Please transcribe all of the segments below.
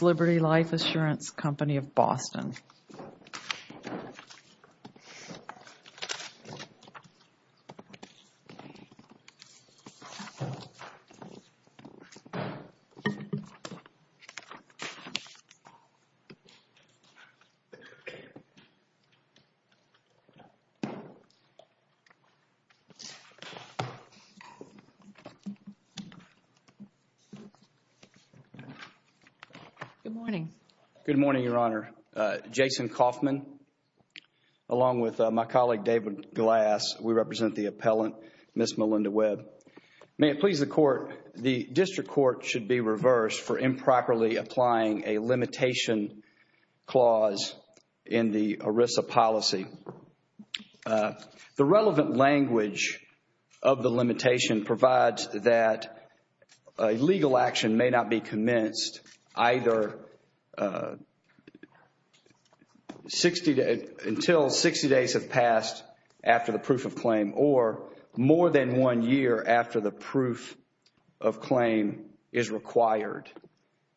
Liberty Life Assurance Company of Boston Good morning. Good morning, Your Honor. Jason Coffman, along with my colleague David Glass, we represent the appellant, Ms. Melinda Webb. May it please the court, the district court should be reversed for improperly applying a limitation clause in the ERISA policy. The relevant language of the limitation provides that a legal action may not be commenced either until 60 days have passed after the proof of claim or more than one year after the proof of claim is required.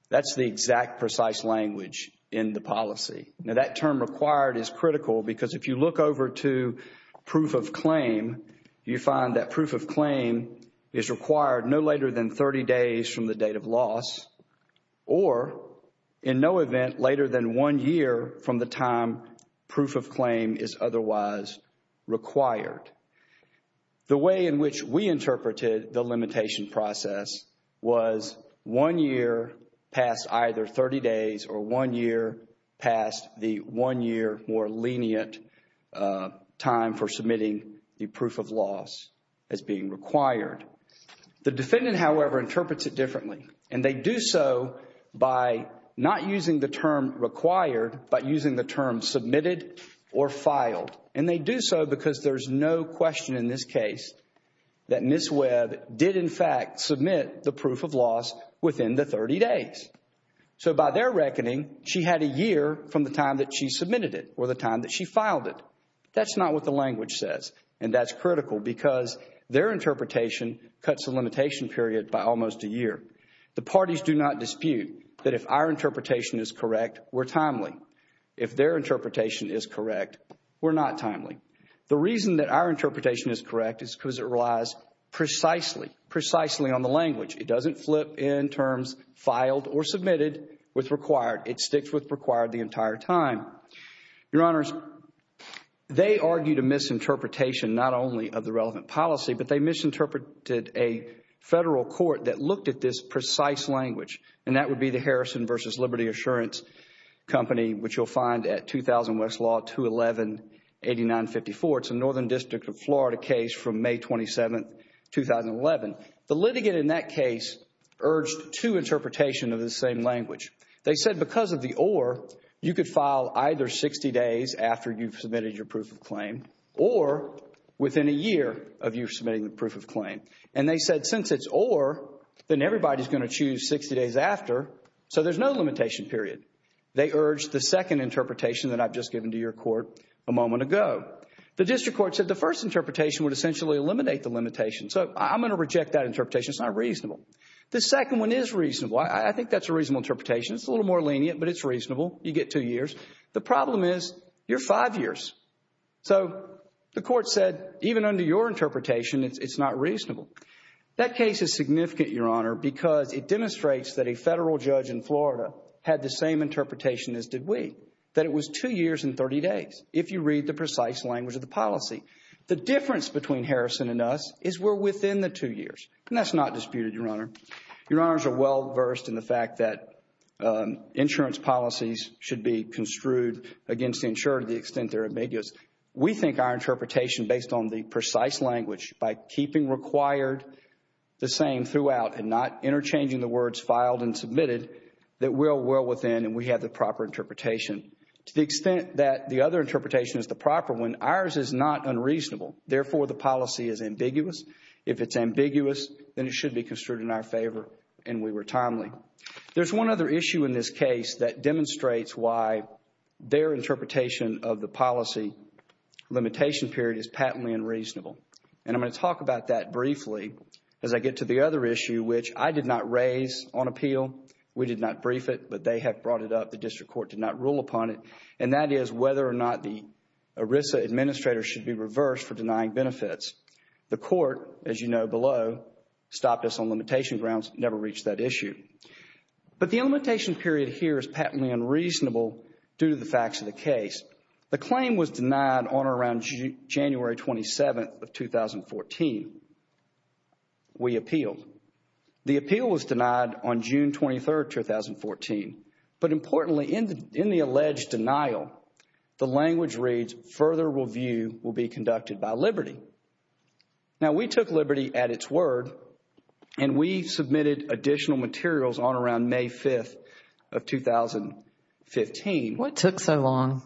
That's the exact precise language in the policy. Now, that term required is critical because if you look over to proof of claim, you find that proof of claim is required no later than 30 days from the date of loss or in no event later than one year from the time proof of claim is otherwise required. The way in which we interpreted the limitation process was one year past either 30 days or one year past the one year more lenient time for submitting the proof of loss as being required. The defendant, however, interprets it differently and they do so by not using the term required but using the term submitted or filed. And they do so because there's no question in this case that Ms. Webb did in fact submit the proof of loss within the 30 days. So by their reckoning, she had a year from the time that she submitted it or the time that she filed it. That's not what the language says and that's critical because their interpretation cuts the limitation period by almost a year. The parties do not dispute that if our interpretation is correct, we're timely. If their interpretation is correct, we're not timely. The reason that our interpretation is correct is because it relies precisely, precisely on the language. It doesn't flip in terms filed or submitted with required. It sticks with required the entire time. Your Honors, they argued a misinterpretation not only of the relevant policy but they misinterpreted a federal court that looked at this precise language and that would be the Harrison v. Liberty Assurance Company which you'll find at 2000 Westlaw 211-8954. It's a Northern District of Florida case from May 27, 2011. The litigant in that case urged two interpretations of the same language. They said because of the or, you could file either 60 days after you've submitted your proof of claim or within a year of you submitting the proof of claim. And they said since it's or, then everybody's going to choose 60 days after so there's no limitation period. They urged the second interpretation that I've just given to your court a moment ago. The district court said the first interpretation would essentially eliminate the limitation. So I'm going to reject that interpretation. It's not reasonable. The second one is reasonable. I think that's a reasonable interpretation. It's a little more lenient but it's reasonable. You get two years. The problem is you're five years. So the court said even under your interpretation it's not reasonable. That case is significant, Your Honor, because it demonstrates that a federal judge in Florida had the same interpretation as did we. That it was two years and 30 days if you read the precise language of the policy. The difference between Harrison and us is we're within the two years and that's not disputed, Your Honor. Your Honors are well versed in the fact that insurance policies should be construed against the insurer to the extent they're ambiguous. We think our interpretation based on the precise language by keeping required the same throughout and not interchanging the words filed and submitted that we're well within and we have the proper interpretation. To the extent that the other interpretation is the proper one, ours is not unreasonable. Therefore, the policy is ambiguous. If it's ambiguous, then it should be construed in our favor and we were timely. There's one other issue in this case that demonstrates why their interpretation of the policy limitation period is patently unreasonable and I'm going to talk about that briefly as I get to the other issue which I did not raise on appeal. We did not brief it but they have brought it up. The district court did not rule upon it and that is whether or not the ERISA administrator should be reversed for denying benefits. The court, as you know below, stopped us on limitation grounds, never reached that issue. But the limitation period here is patently unreasonable due to the facts of the case. The claim was denied on or around January 27th of 2014. We appealed. The appeal was denied on June 23rd, 2014. But importantly, in the alleged denial, the language reads, further review will be conducted by Liberty. Now we took Liberty at its word and we submitted additional materials on or around May 5th of 2015. What took so long?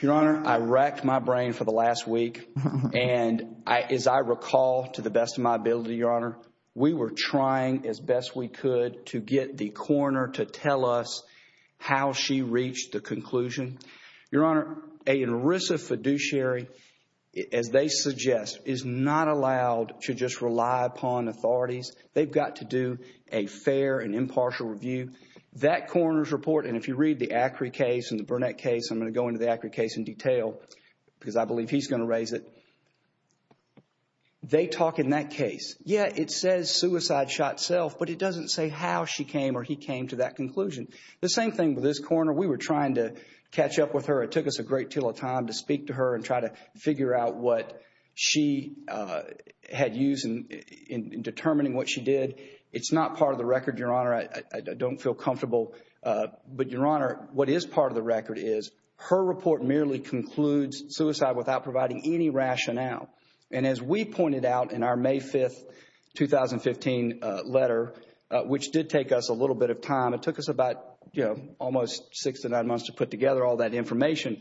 Your Honor, I racked my brain for the last week and as I recall to the best of my ability, we were trying as best we could to get the coroner to tell us how she reached the conclusion. Your Honor, an ERISA fiduciary, as they suggest, is not allowed to just rely upon authorities. They've got to do a fair and impartial review. That coroner's report, and if you read the Acri case and the Burnett case, I'm going to go into the Acri case in detail because I believe he's going to raise it. They talk in that case, yeah, it says suicide shot self, but it doesn't say how she came or he came to that conclusion. The same thing with this coroner. We were trying to catch up with her. It took us a great deal of time to speak to her and try to figure out what she had used in determining what she did. It's not part of the record, Your Honor. I don't feel comfortable, but Your Honor, what is part of the record is her report merely concludes suicide without providing any rationale. As we pointed out in our May 5th, 2015 letter, which did take us a little bit of time, it took us about almost six to nine months to put together all that information,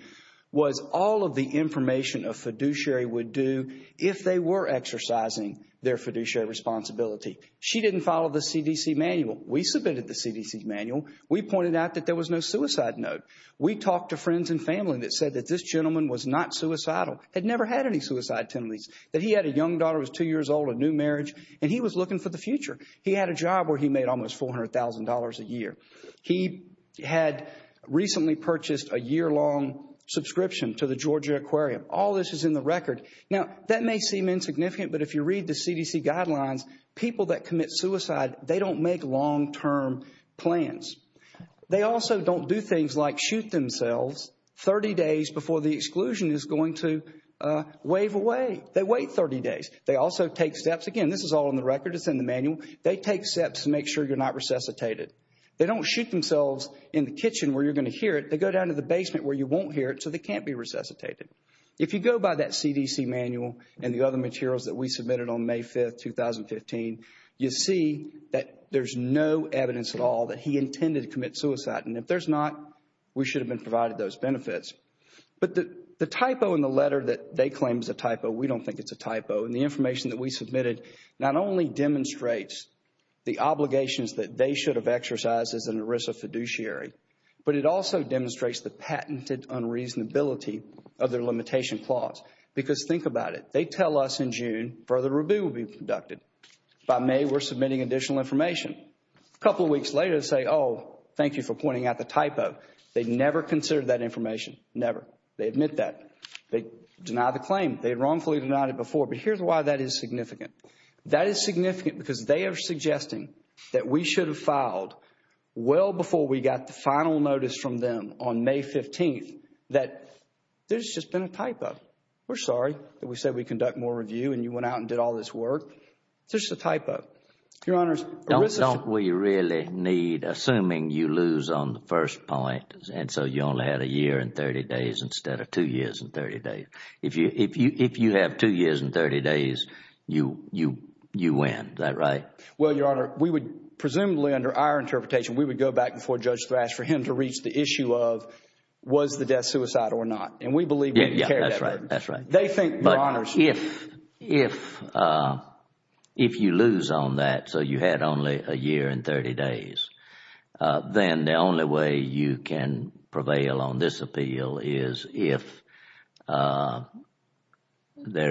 was all of the information a fiduciary would do if they were exercising their fiduciary responsibility. She didn't follow the CDC manual. We submitted the CDC manual. We pointed out that there was no suicide note. We talked to friends and family that said that this gentleman was not suicidal, had never had any suicide tendencies, that he had a young daughter who was two years old, a new marriage, and he was looking for the future. He had a job where he made almost $400,000 a year. He had recently purchased a year-long subscription to the Georgia Aquarium. All this is in the record. Now, that may seem insignificant, but if you read the CDC guidelines, people that commit suicide, they don't make long-term plans. They also don't do things like shoot themselves 30 days before the exclusion is going to wave away. They wait 30 days. They also take steps, again, this is all in the record, it's in the manual, they take steps to make sure you're not resuscitated. They don't shoot themselves in the kitchen where you're going to hear it. They go down to the basement where you won't hear it, so they can't be resuscitated. If you go by that CDC manual and the other materials that we submitted on May 5th, 2015, you see that there's no evidence at all that he intended to commit suicide, and if there's not, we should have been provided those benefits. But the typo in the letter that they claim is a typo, we don't think it's a typo, and the information that we submitted not only demonstrates the obligations that they should have exercised as an ERISA fiduciary, but it also demonstrates the patented unreasonability of their limitation clause. Because think about it. They tell us in June, further review will be conducted. By May, we're submitting additional information. A couple of weeks later, they say, oh, thank you for pointing out the typo. They never considered that information, never. They admit that. They deny the claim. They wrongfully denied it before, but here's why that is significant. That is significant because they are suggesting that we should have filed well before we got the final notice from them on May 15th, that there's just been a typo. We're sorry that we said we'd conduct more review and you went out and did all this work. It's just a typo. Your Honor, ERISA should... Don't we really need, assuming you lose on the first point, and so you only had a year and 30 days instead of two years and 30 days, if you have two years and 30 days, you win. Is that right? Well, Your Honor, we would, presumably under our interpretation, we would go back before Judge Thrash for him to reach the issue of was the death suicide or not. And we believe we can carry that. That's right. That's right. They think, Your Honor... But if you lose on that, so you had only a year and 30 days, then the only way you can prevail on this appeal is if there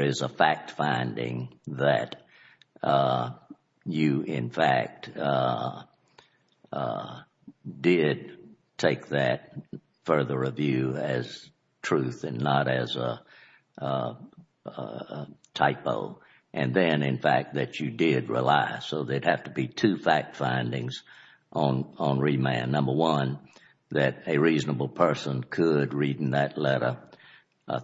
is a fact finding that you, in fact, did take that further review as truth and not as a typo. And then, in fact, that you did rely, so there'd have to be two fact findings on remand. Number one, that a reasonable person could read in that letter,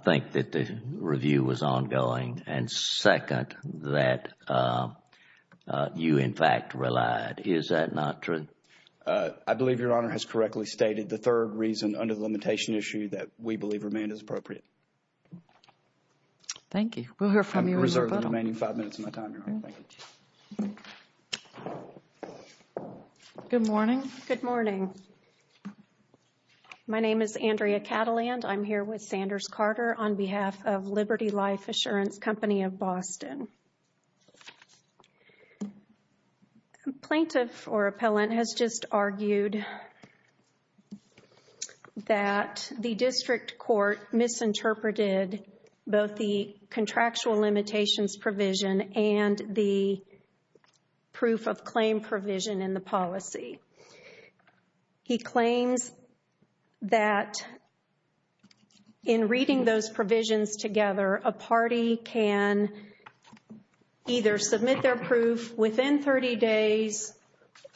think that the review was ongoing. And second, that you, in fact, relied. Is that not true? I believe Your Honor has correctly stated. The third reason under the limitation issue that we believe remand is appropriate. Thank you. We'll hear from you in a moment. I'm going to reserve the remaining five minutes of my time, Your Honor. Thank you. Good morning. Good morning. My name is Andrea Cattleland. I'm here with Sanders-Carter on behalf of Liberty Life Assurance Company of Boston. A plaintiff or appellant has just argued that the district court misinterpreted both the contractual limitations provision and the proof of claim provision in the policy. He claims that in reading those provisions together, a party can either submit their proof within 30 days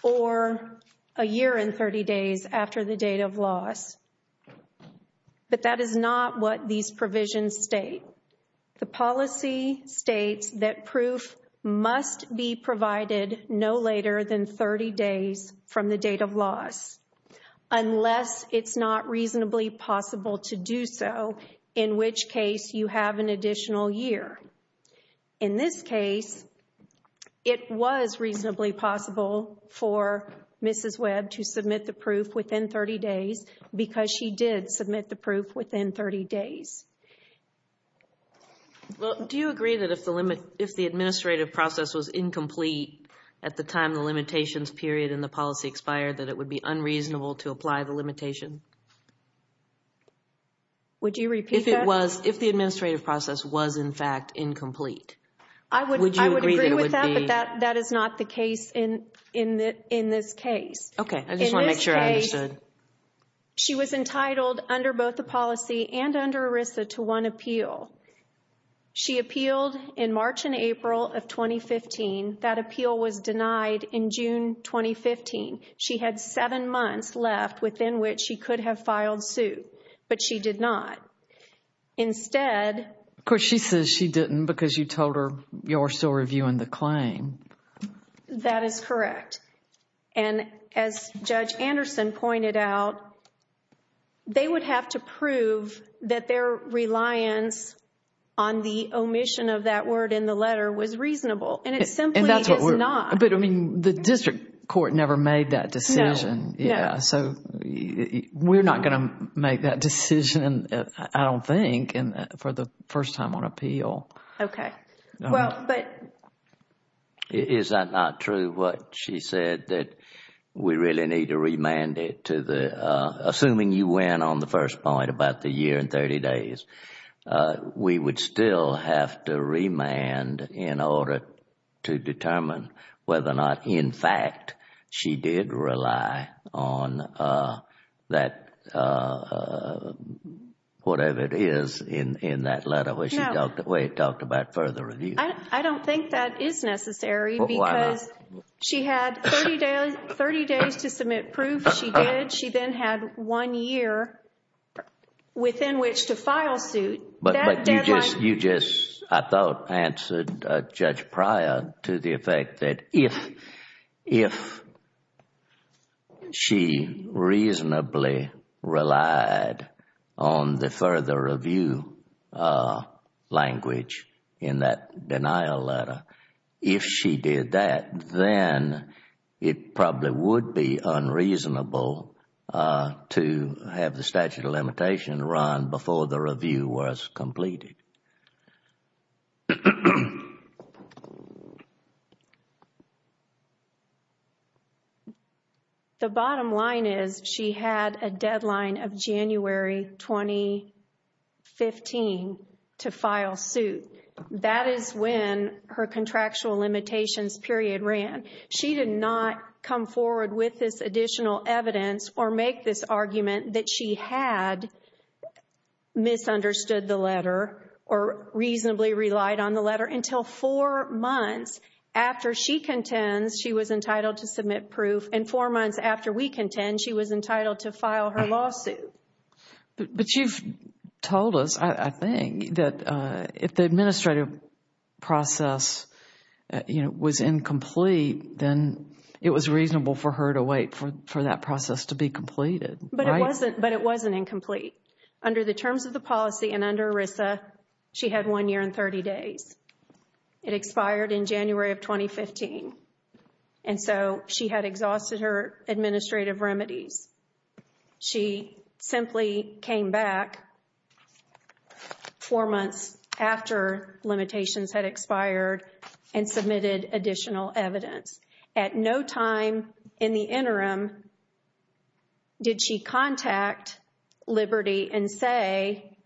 or a year and 30 days after the date of loss. But that is not what these provisions state. The policy states that proof must be provided no later than 30 days from the date of loss unless it's not reasonably possible to do so, in which case you have an additional year. In this case, it was reasonably possible for Mrs. Webb to submit the proof within 30 days because she did submit the proof within 30 days. Do you agree that if the administrative process was incomplete at the time the limitations period in the policy expired, that it would be unreasonable to apply the limitation? Would you repeat that? If the administrative process was, in fact, incomplete, would you agree that it would be? I would agree with that, but that is not the case in this case. Okay. I just want to make sure I understood. She was entitled under both the policy and under ERISA to one appeal. She appealed in March and April of 2015. That appeal was denied in June 2015. She had seven months left within which she could have filed suit, but she did not. Instead... Of course, she says she didn't because you told her you're still reviewing the claim. That is correct. As Judge Anderson pointed out, they would have to prove that their reliance on the omission of that word in the letter was reasonable. It simply is not. That's what we're... But, I mean, the district court never made that decision. No. Yeah. We're not going to make that decision, I don't think, for the first time on appeal. Okay. Well, but... Is that not true, what she said, that we really need to remand it to the... assuming you went on the first point about the year and 30 days, we would still have to remand in order to determine whether or not, in fact, she did rely on that... whatever it is in that letter where she talked about further review? I don't think that is necessary because she had 30 days to submit proof she did. She then had one year within which to file suit. But you just, I thought, answered, Judge Pryor, to the effect that if she reasonably relied on the further review language in that denial letter, if she did that, then it probably would be unreasonable to have the statute of limitations run before the review was completed. Okay. The bottom line is she had a deadline of January 2015 to file suit. That is when her contractual limitations period ran. She did not come forward with this additional evidence or make this argument that she had misunderstood the letter or reasonably relied on the letter until four months after she contends she was entitled to submit proof and four months after we contend she was entitled to file her lawsuit. But you've told us, I think, that if the administrative process was incomplete, then it was reasonable for her to wait for that process to be completed, right? But it wasn't incomplete. Under the terms of the policy and under ERISA, she had one year and 30 days. It expired in January of 2015. And so she had exhausted her administrative remedies. She simply came back four months after limitations had expired and submitted additional evidence. At no time in the interim did she contact Liberty and say,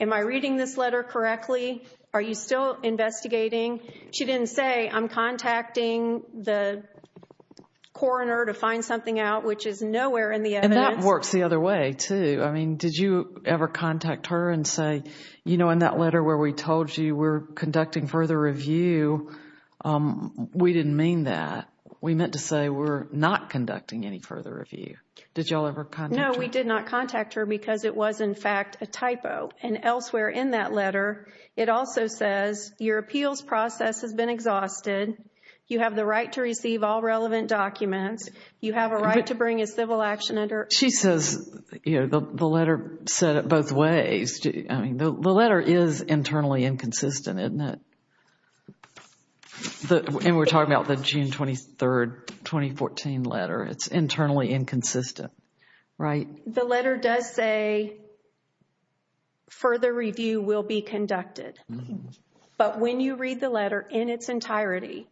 am I reading this letter correctly? Are you still investigating? She didn't say, I'm contacting the coroner to find something out, which is nowhere in the evidence. And that works the other way, too. I mean, did you ever contact her and say, you know, in that letter where we told you we're conducting further review, we didn't mean that. We meant to say we're not conducting any further review. Did y'all ever contact her? No, we did not contact her because it was, in fact, a typo. And elsewhere in that letter, it also says your appeals process has been exhausted. You have the right to receive all relevant documents. You have a right to bring a civil action under. She says, you know, the letter said it both ways. I mean, the letter is internally inconsistent, isn't it? And we're talking about the June 23, 2014 letter. It's internally inconsistent, right? The letter does say further review will be conducted. But when you read the letter in its entirety,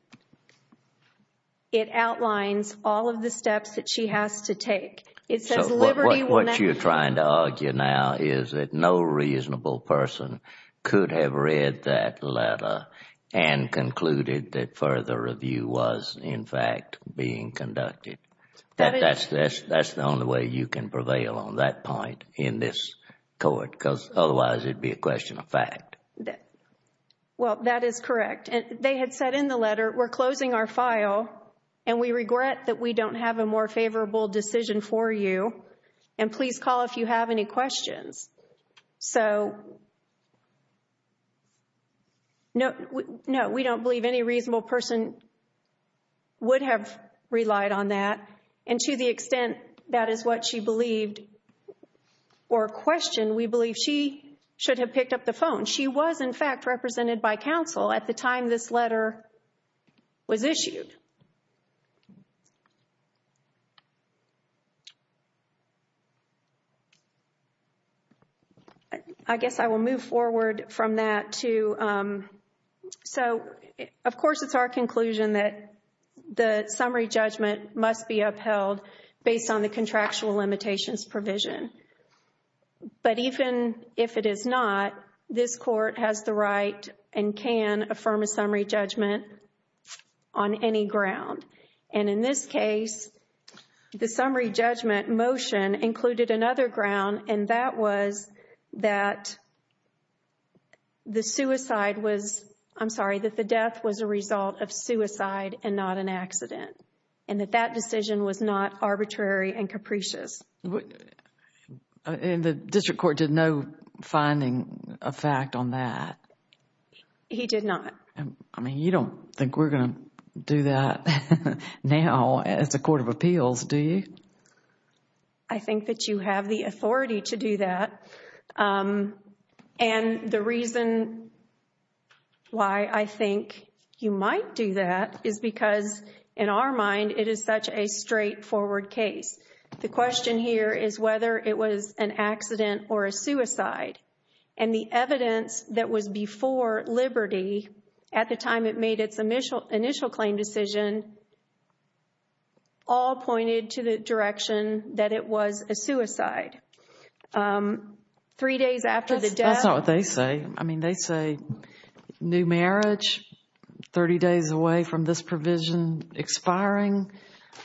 it outlines all of the steps that she has to take. It says liberty will not be. So what you're trying to argue now is that no reasonable person could have read that letter and concluded that further review was, in fact, being conducted. That's the only way you can prevail on that point in this court, because otherwise it would be a question of fact. Well, that is correct. They had said in the letter, we're closing our file and we regret that we don't have a more favorable decision for you. And please call if you have any questions. So no, we don't believe any reasonable person would have relied on that. And to the extent that is what she believed or questioned, we believe she should have picked up the phone. She was, in fact, represented by counsel at the time this letter was issued. I guess I will move forward from that to, so of course, it's our conclusion that the summary judgment must be upheld based on the contractual limitations provision. But even if it is not, this court has the right and can affirm a summary judgment on any ground. And in this case, the summary judgment motion included another ground, and that was that the suicide was, I'm sorry, that the death was a result of suicide and not an accident. And that that decision was not arbitrary and capricious. And the district court did no finding a fact on that? He did not. I mean, you don't think we're going to do that now as a court of appeals, do you? I think that you have the authority to do that. And the reason why I think you might do that is because, in our mind, it is such a straightforward case. The question here is whether it was an accident or a suicide. And the evidence that was before Liberty at the time it made its initial claim decision all pointed to the direction that it was a suicide. Three days after the death. That's not what they say. I mean, they say new marriage, 30 days away from this provision expiring,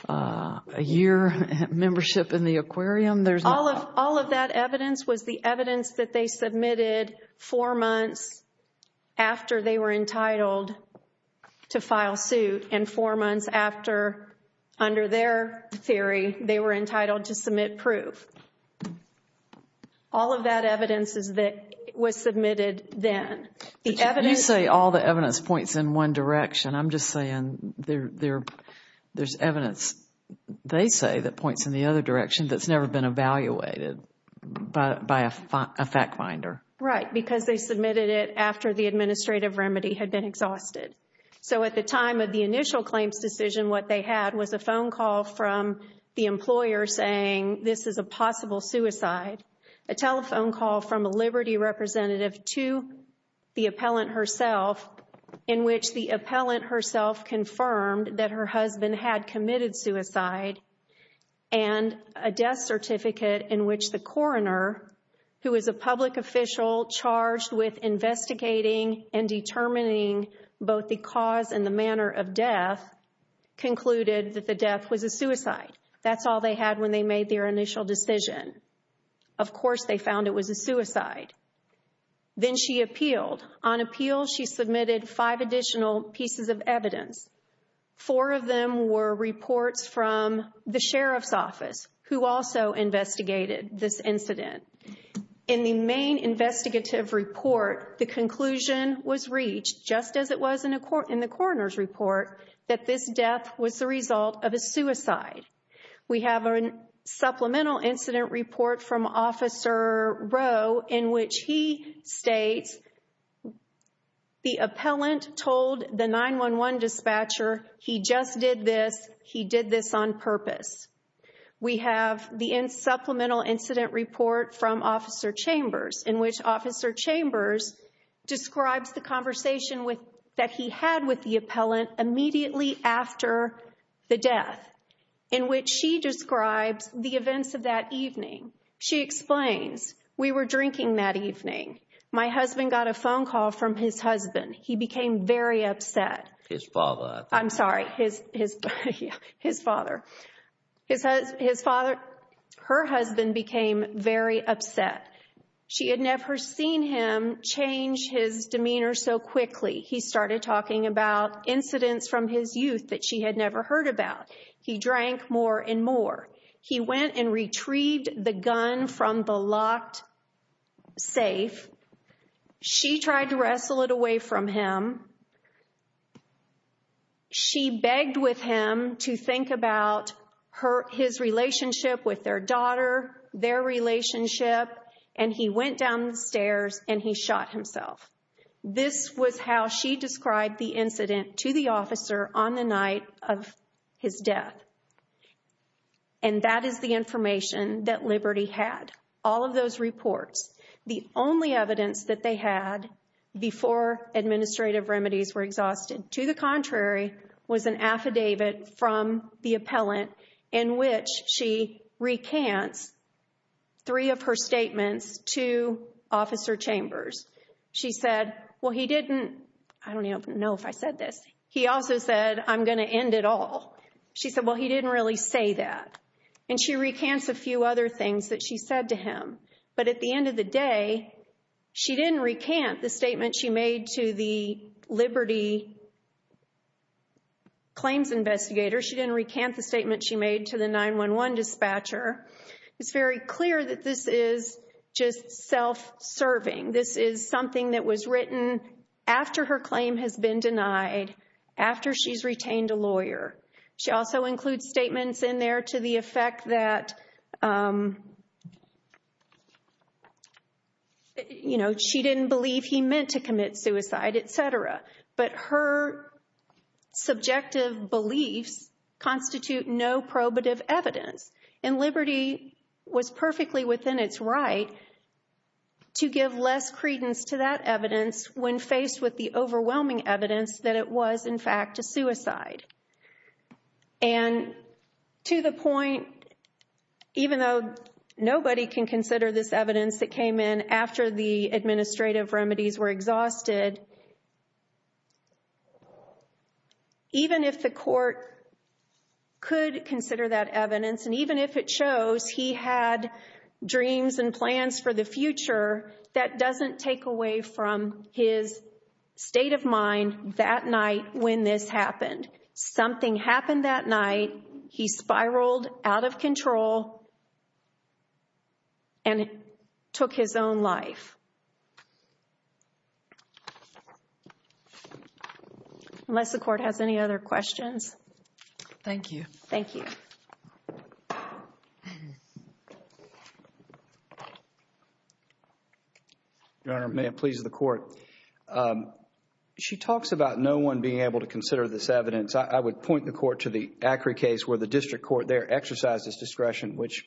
a year membership in the aquarium. There's not. All of that evidence was the evidence that they submitted four months after they were entitled to file suit and four months after, under their theory, they were entitled to All of that evidence was submitted then. You say all the evidence points in one direction. I'm just saying there's evidence, they say, that points in the other direction that's never been evaluated by a fact finder. Right. Because they submitted it after the administrative remedy had been exhausted. So at the time of the initial claims decision, what they had was a phone call from the employer saying this is a possible suicide, a telephone call from a Liberty representative to the appellant herself in which the appellant herself confirmed that her husband had committed suicide and a death certificate in which the coroner, who is a public official charged with investigating and determining both the cause and the manner of death, concluded that the death was a suicide. That's all they had when they made their initial decision. Of course, they found it was a suicide. Then she appealed. On appeal, she submitted five additional pieces of evidence. Four of them were reports from the sheriff's office, who also investigated this incident. In the main investigative report, the conclusion was reached, just as it was in the coroner's report, that this death was the result of a suicide. We have a supplemental incident report from Officer Rowe in which he states the appellant told the 911 dispatcher he just did this. He did this on purpose. We have the supplemental incident report from Officer Chambers in which Officer Chambers describes the conversation that he had with the appellant immediately after the death in which she describes the events of that evening. She explains, we were drinking that evening. My husband got a phone call from his husband. He became very upset. His father. I'm sorry, his father. Her husband became very upset. She had never seen him change his demeanor so quickly. He started talking about incidents from his youth that she had never heard about. He drank more and more. He went and retrieved the gun from the locked safe. She tried to wrestle it away from him. She begged with him to think about his relationship with their daughter, their relationship. And he went down the stairs and he shot himself. This was how she described the incident to the officer on the night of his death. And that is the information that Liberty had. All of those reports, the only evidence that they had before administrative remedies were exhausted, to the contrary, was an affidavit from the appellant in which she recants three of her statements to Officer Chambers. She said, well, he didn't, I don't even know if I said this. He also said, I'm going to end it all. She said, well, he didn't really say that. And she recants a few other things that she said to him. But at the end of the day, she didn't recant the statement she made to the Liberty claims investigator. She didn't recant the statement she made to the 911 dispatcher. It's very clear that this is just self-serving. This is something that was written after her claim has been denied, after she's retained a lawyer. She also includes statements in there to the effect that, you know, she didn't believe he meant to commit suicide, et cetera. But her subjective beliefs constitute no probative evidence. And Liberty was perfectly within its right to give less credence to that evidence when faced with the overwhelming evidence that it was, in fact, a suicide. And to the point, even though nobody can consider this evidence that came in after the administrative remedies were exhausted, even if the court could consider that evidence, and even if it shows he had dreams and plans for the future, that doesn't take away from his state of mind that night when this happened. Something happened that night. He spiraled out of control and took his own life. Unless the court has any other questions. Thank you. Your Honor, may it please the Court. She talks about no one being able to consider this evidence. I would point the Court to the Acri case where the district court there exercised its discretion, which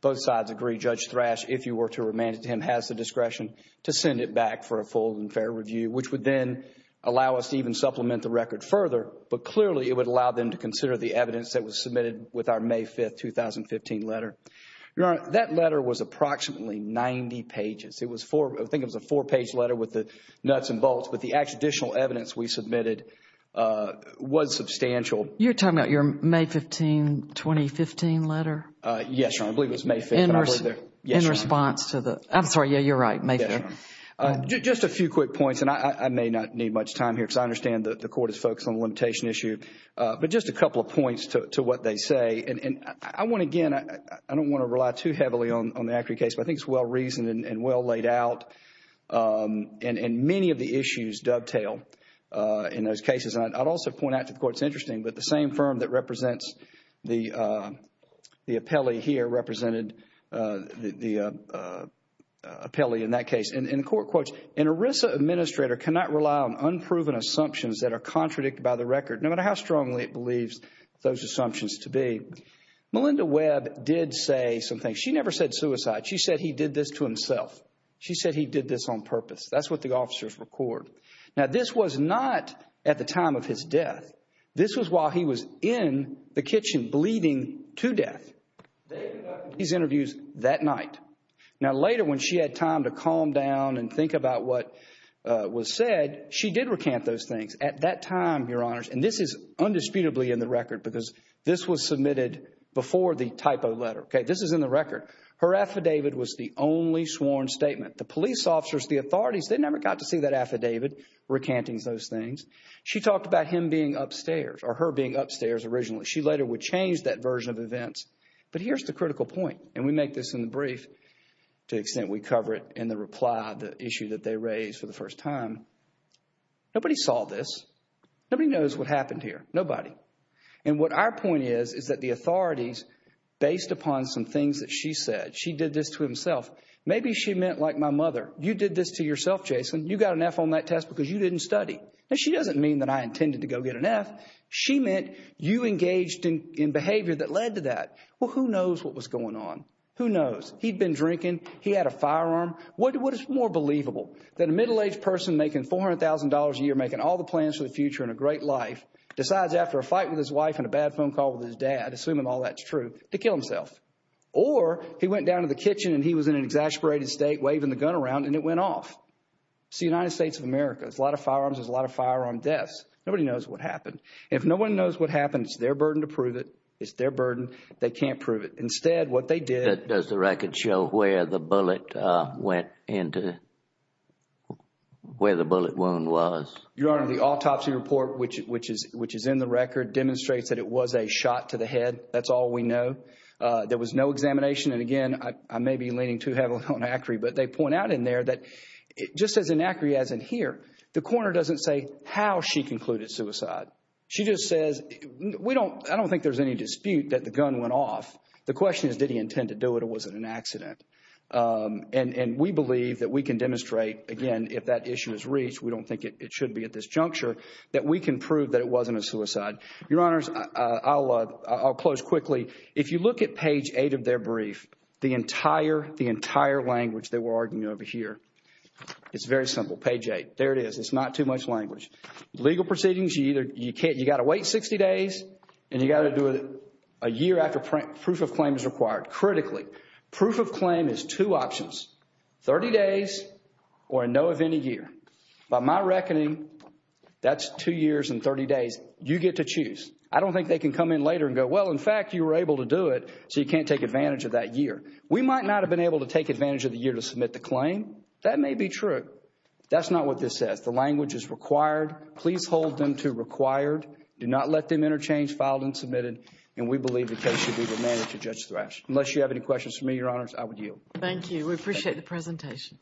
both sides agree, Judge Thrash, if you were to remand it to him, has the discretion to send it back for a full and fair review, which would then allow us to even supplement the record further. But clearly, it would allow them to consider the evidence that was submitted with our May 5th, 2015 letter. That letter was approximately 90 pages. It was a four-page letter with the nuts and bolts, but the additional evidence we submitted was substantial. You're talking about your May 15th, 2015 letter? Yes, Your Honor. I believe it was May 5th. In response to the... I'm sorry, yeah, you're right, May 5th. Just a few quick points, and I may not need much time here because I understand that the Acri case is a consultation issue. But just a couple of points to what they say, and I want, again, I don't want to rely too heavily on the Acri case, but I think it's well-reasoned and well-laid out, and many of the issues dovetail in those cases. I'd also point out to the Court, it's interesting, but the same firm that represents the appellee here represented the appellee in that case. And the Court quotes, an ERISA administrator cannot rely on unproven assumptions that are on record, no matter how strongly it believes those assumptions to be. Melinda Webb did say some things. She never said suicide. She said he did this to himself. She said he did this on purpose. That's what the officers record. Now, this was not at the time of his death. This was while he was in the kitchen bleeding to death. They conducted these interviews that night. Now, later, when she had time to calm down and think about what was said, she did recant those things. At that time, Your Honors, and this is undisputably in the record because this was submitted before the typo letter. Okay? This is in the record. Her affidavit was the only sworn statement. The police officers, the authorities, they never got to see that affidavit recanting those things. She talked about him being upstairs or her being upstairs originally. She later would change that version of events. But here's the critical point, and we make this in the brief to the extent we cover it in the reply, the issue that they raised for the first time. Nobody saw this. Nobody knows what happened here. Nobody. And what our point is, is that the authorities, based upon some things that she said, she did this to himself. Maybe she meant, like my mother, you did this to yourself, Jason. You got an F on that test because you didn't study. Now, she doesn't mean that I intended to go get an F. She meant you engaged in behavior that led to that. Well, who knows what was going on? Who knows? He'd been drinking. He had a firearm. What is more believable, that a middle-aged person making $400,000 a year, making all the plans for the future and a great life, decides after a fight with his wife and a bad phone call with his dad, assuming all that's true, to kill himself? Or he went down to the kitchen and he was in an exasperated state, waving the gun around, and it went off. See, the United States of America, there's a lot of firearms, there's a lot of firearm deaths. Nobody knows what happened. If no one knows what happened, it's their burden to prove it. It's their burden. They can't prove it. Instead, what they did— But does the record show where the bullet went into, where the bullet wound was? Your Honor, the autopsy report, which is in the record, demonstrates that it was a shot to the head. That's all we know. There was no examination, and again, I may be leaning too heavily on Acri, but they point out in there that, just as in Acri, as in here, the coroner doesn't say how she concluded suicide. She just says, we don't, I don't think there's any dispute that the gun went off. The question is, did he intend to do it, or was it an accident? And we believe that we can demonstrate, again, if that issue is reached, we don't think it should be at this juncture, that we can prove that it wasn't a suicide. Your Honors, I'll close quickly. If you look at page 8 of their brief, the entire language they were arguing over here, it's very simple. Page 8. There it is. It's not too much language. Legal proceedings, you either, you can't, you got to wait 60 days, and you got to do it a year after proof of claim is required, critically. Proof of claim is two options, 30 days, or a no of any year. By my reckoning, that's two years and 30 days. You get to choose. I don't think they can come in later and go, well, in fact, you were able to do it, so you can't take advantage of that year. We might not have been able to take advantage of the year to submit the claim. That may be true. That's not what this says. The language is required. Please hold them to required. Do not let them interchange filed and submitted, and we believe the case should be demanded to Judge Thrash. Unless you have any questions for me, Your Honors, I would yield. We appreciate the presentation.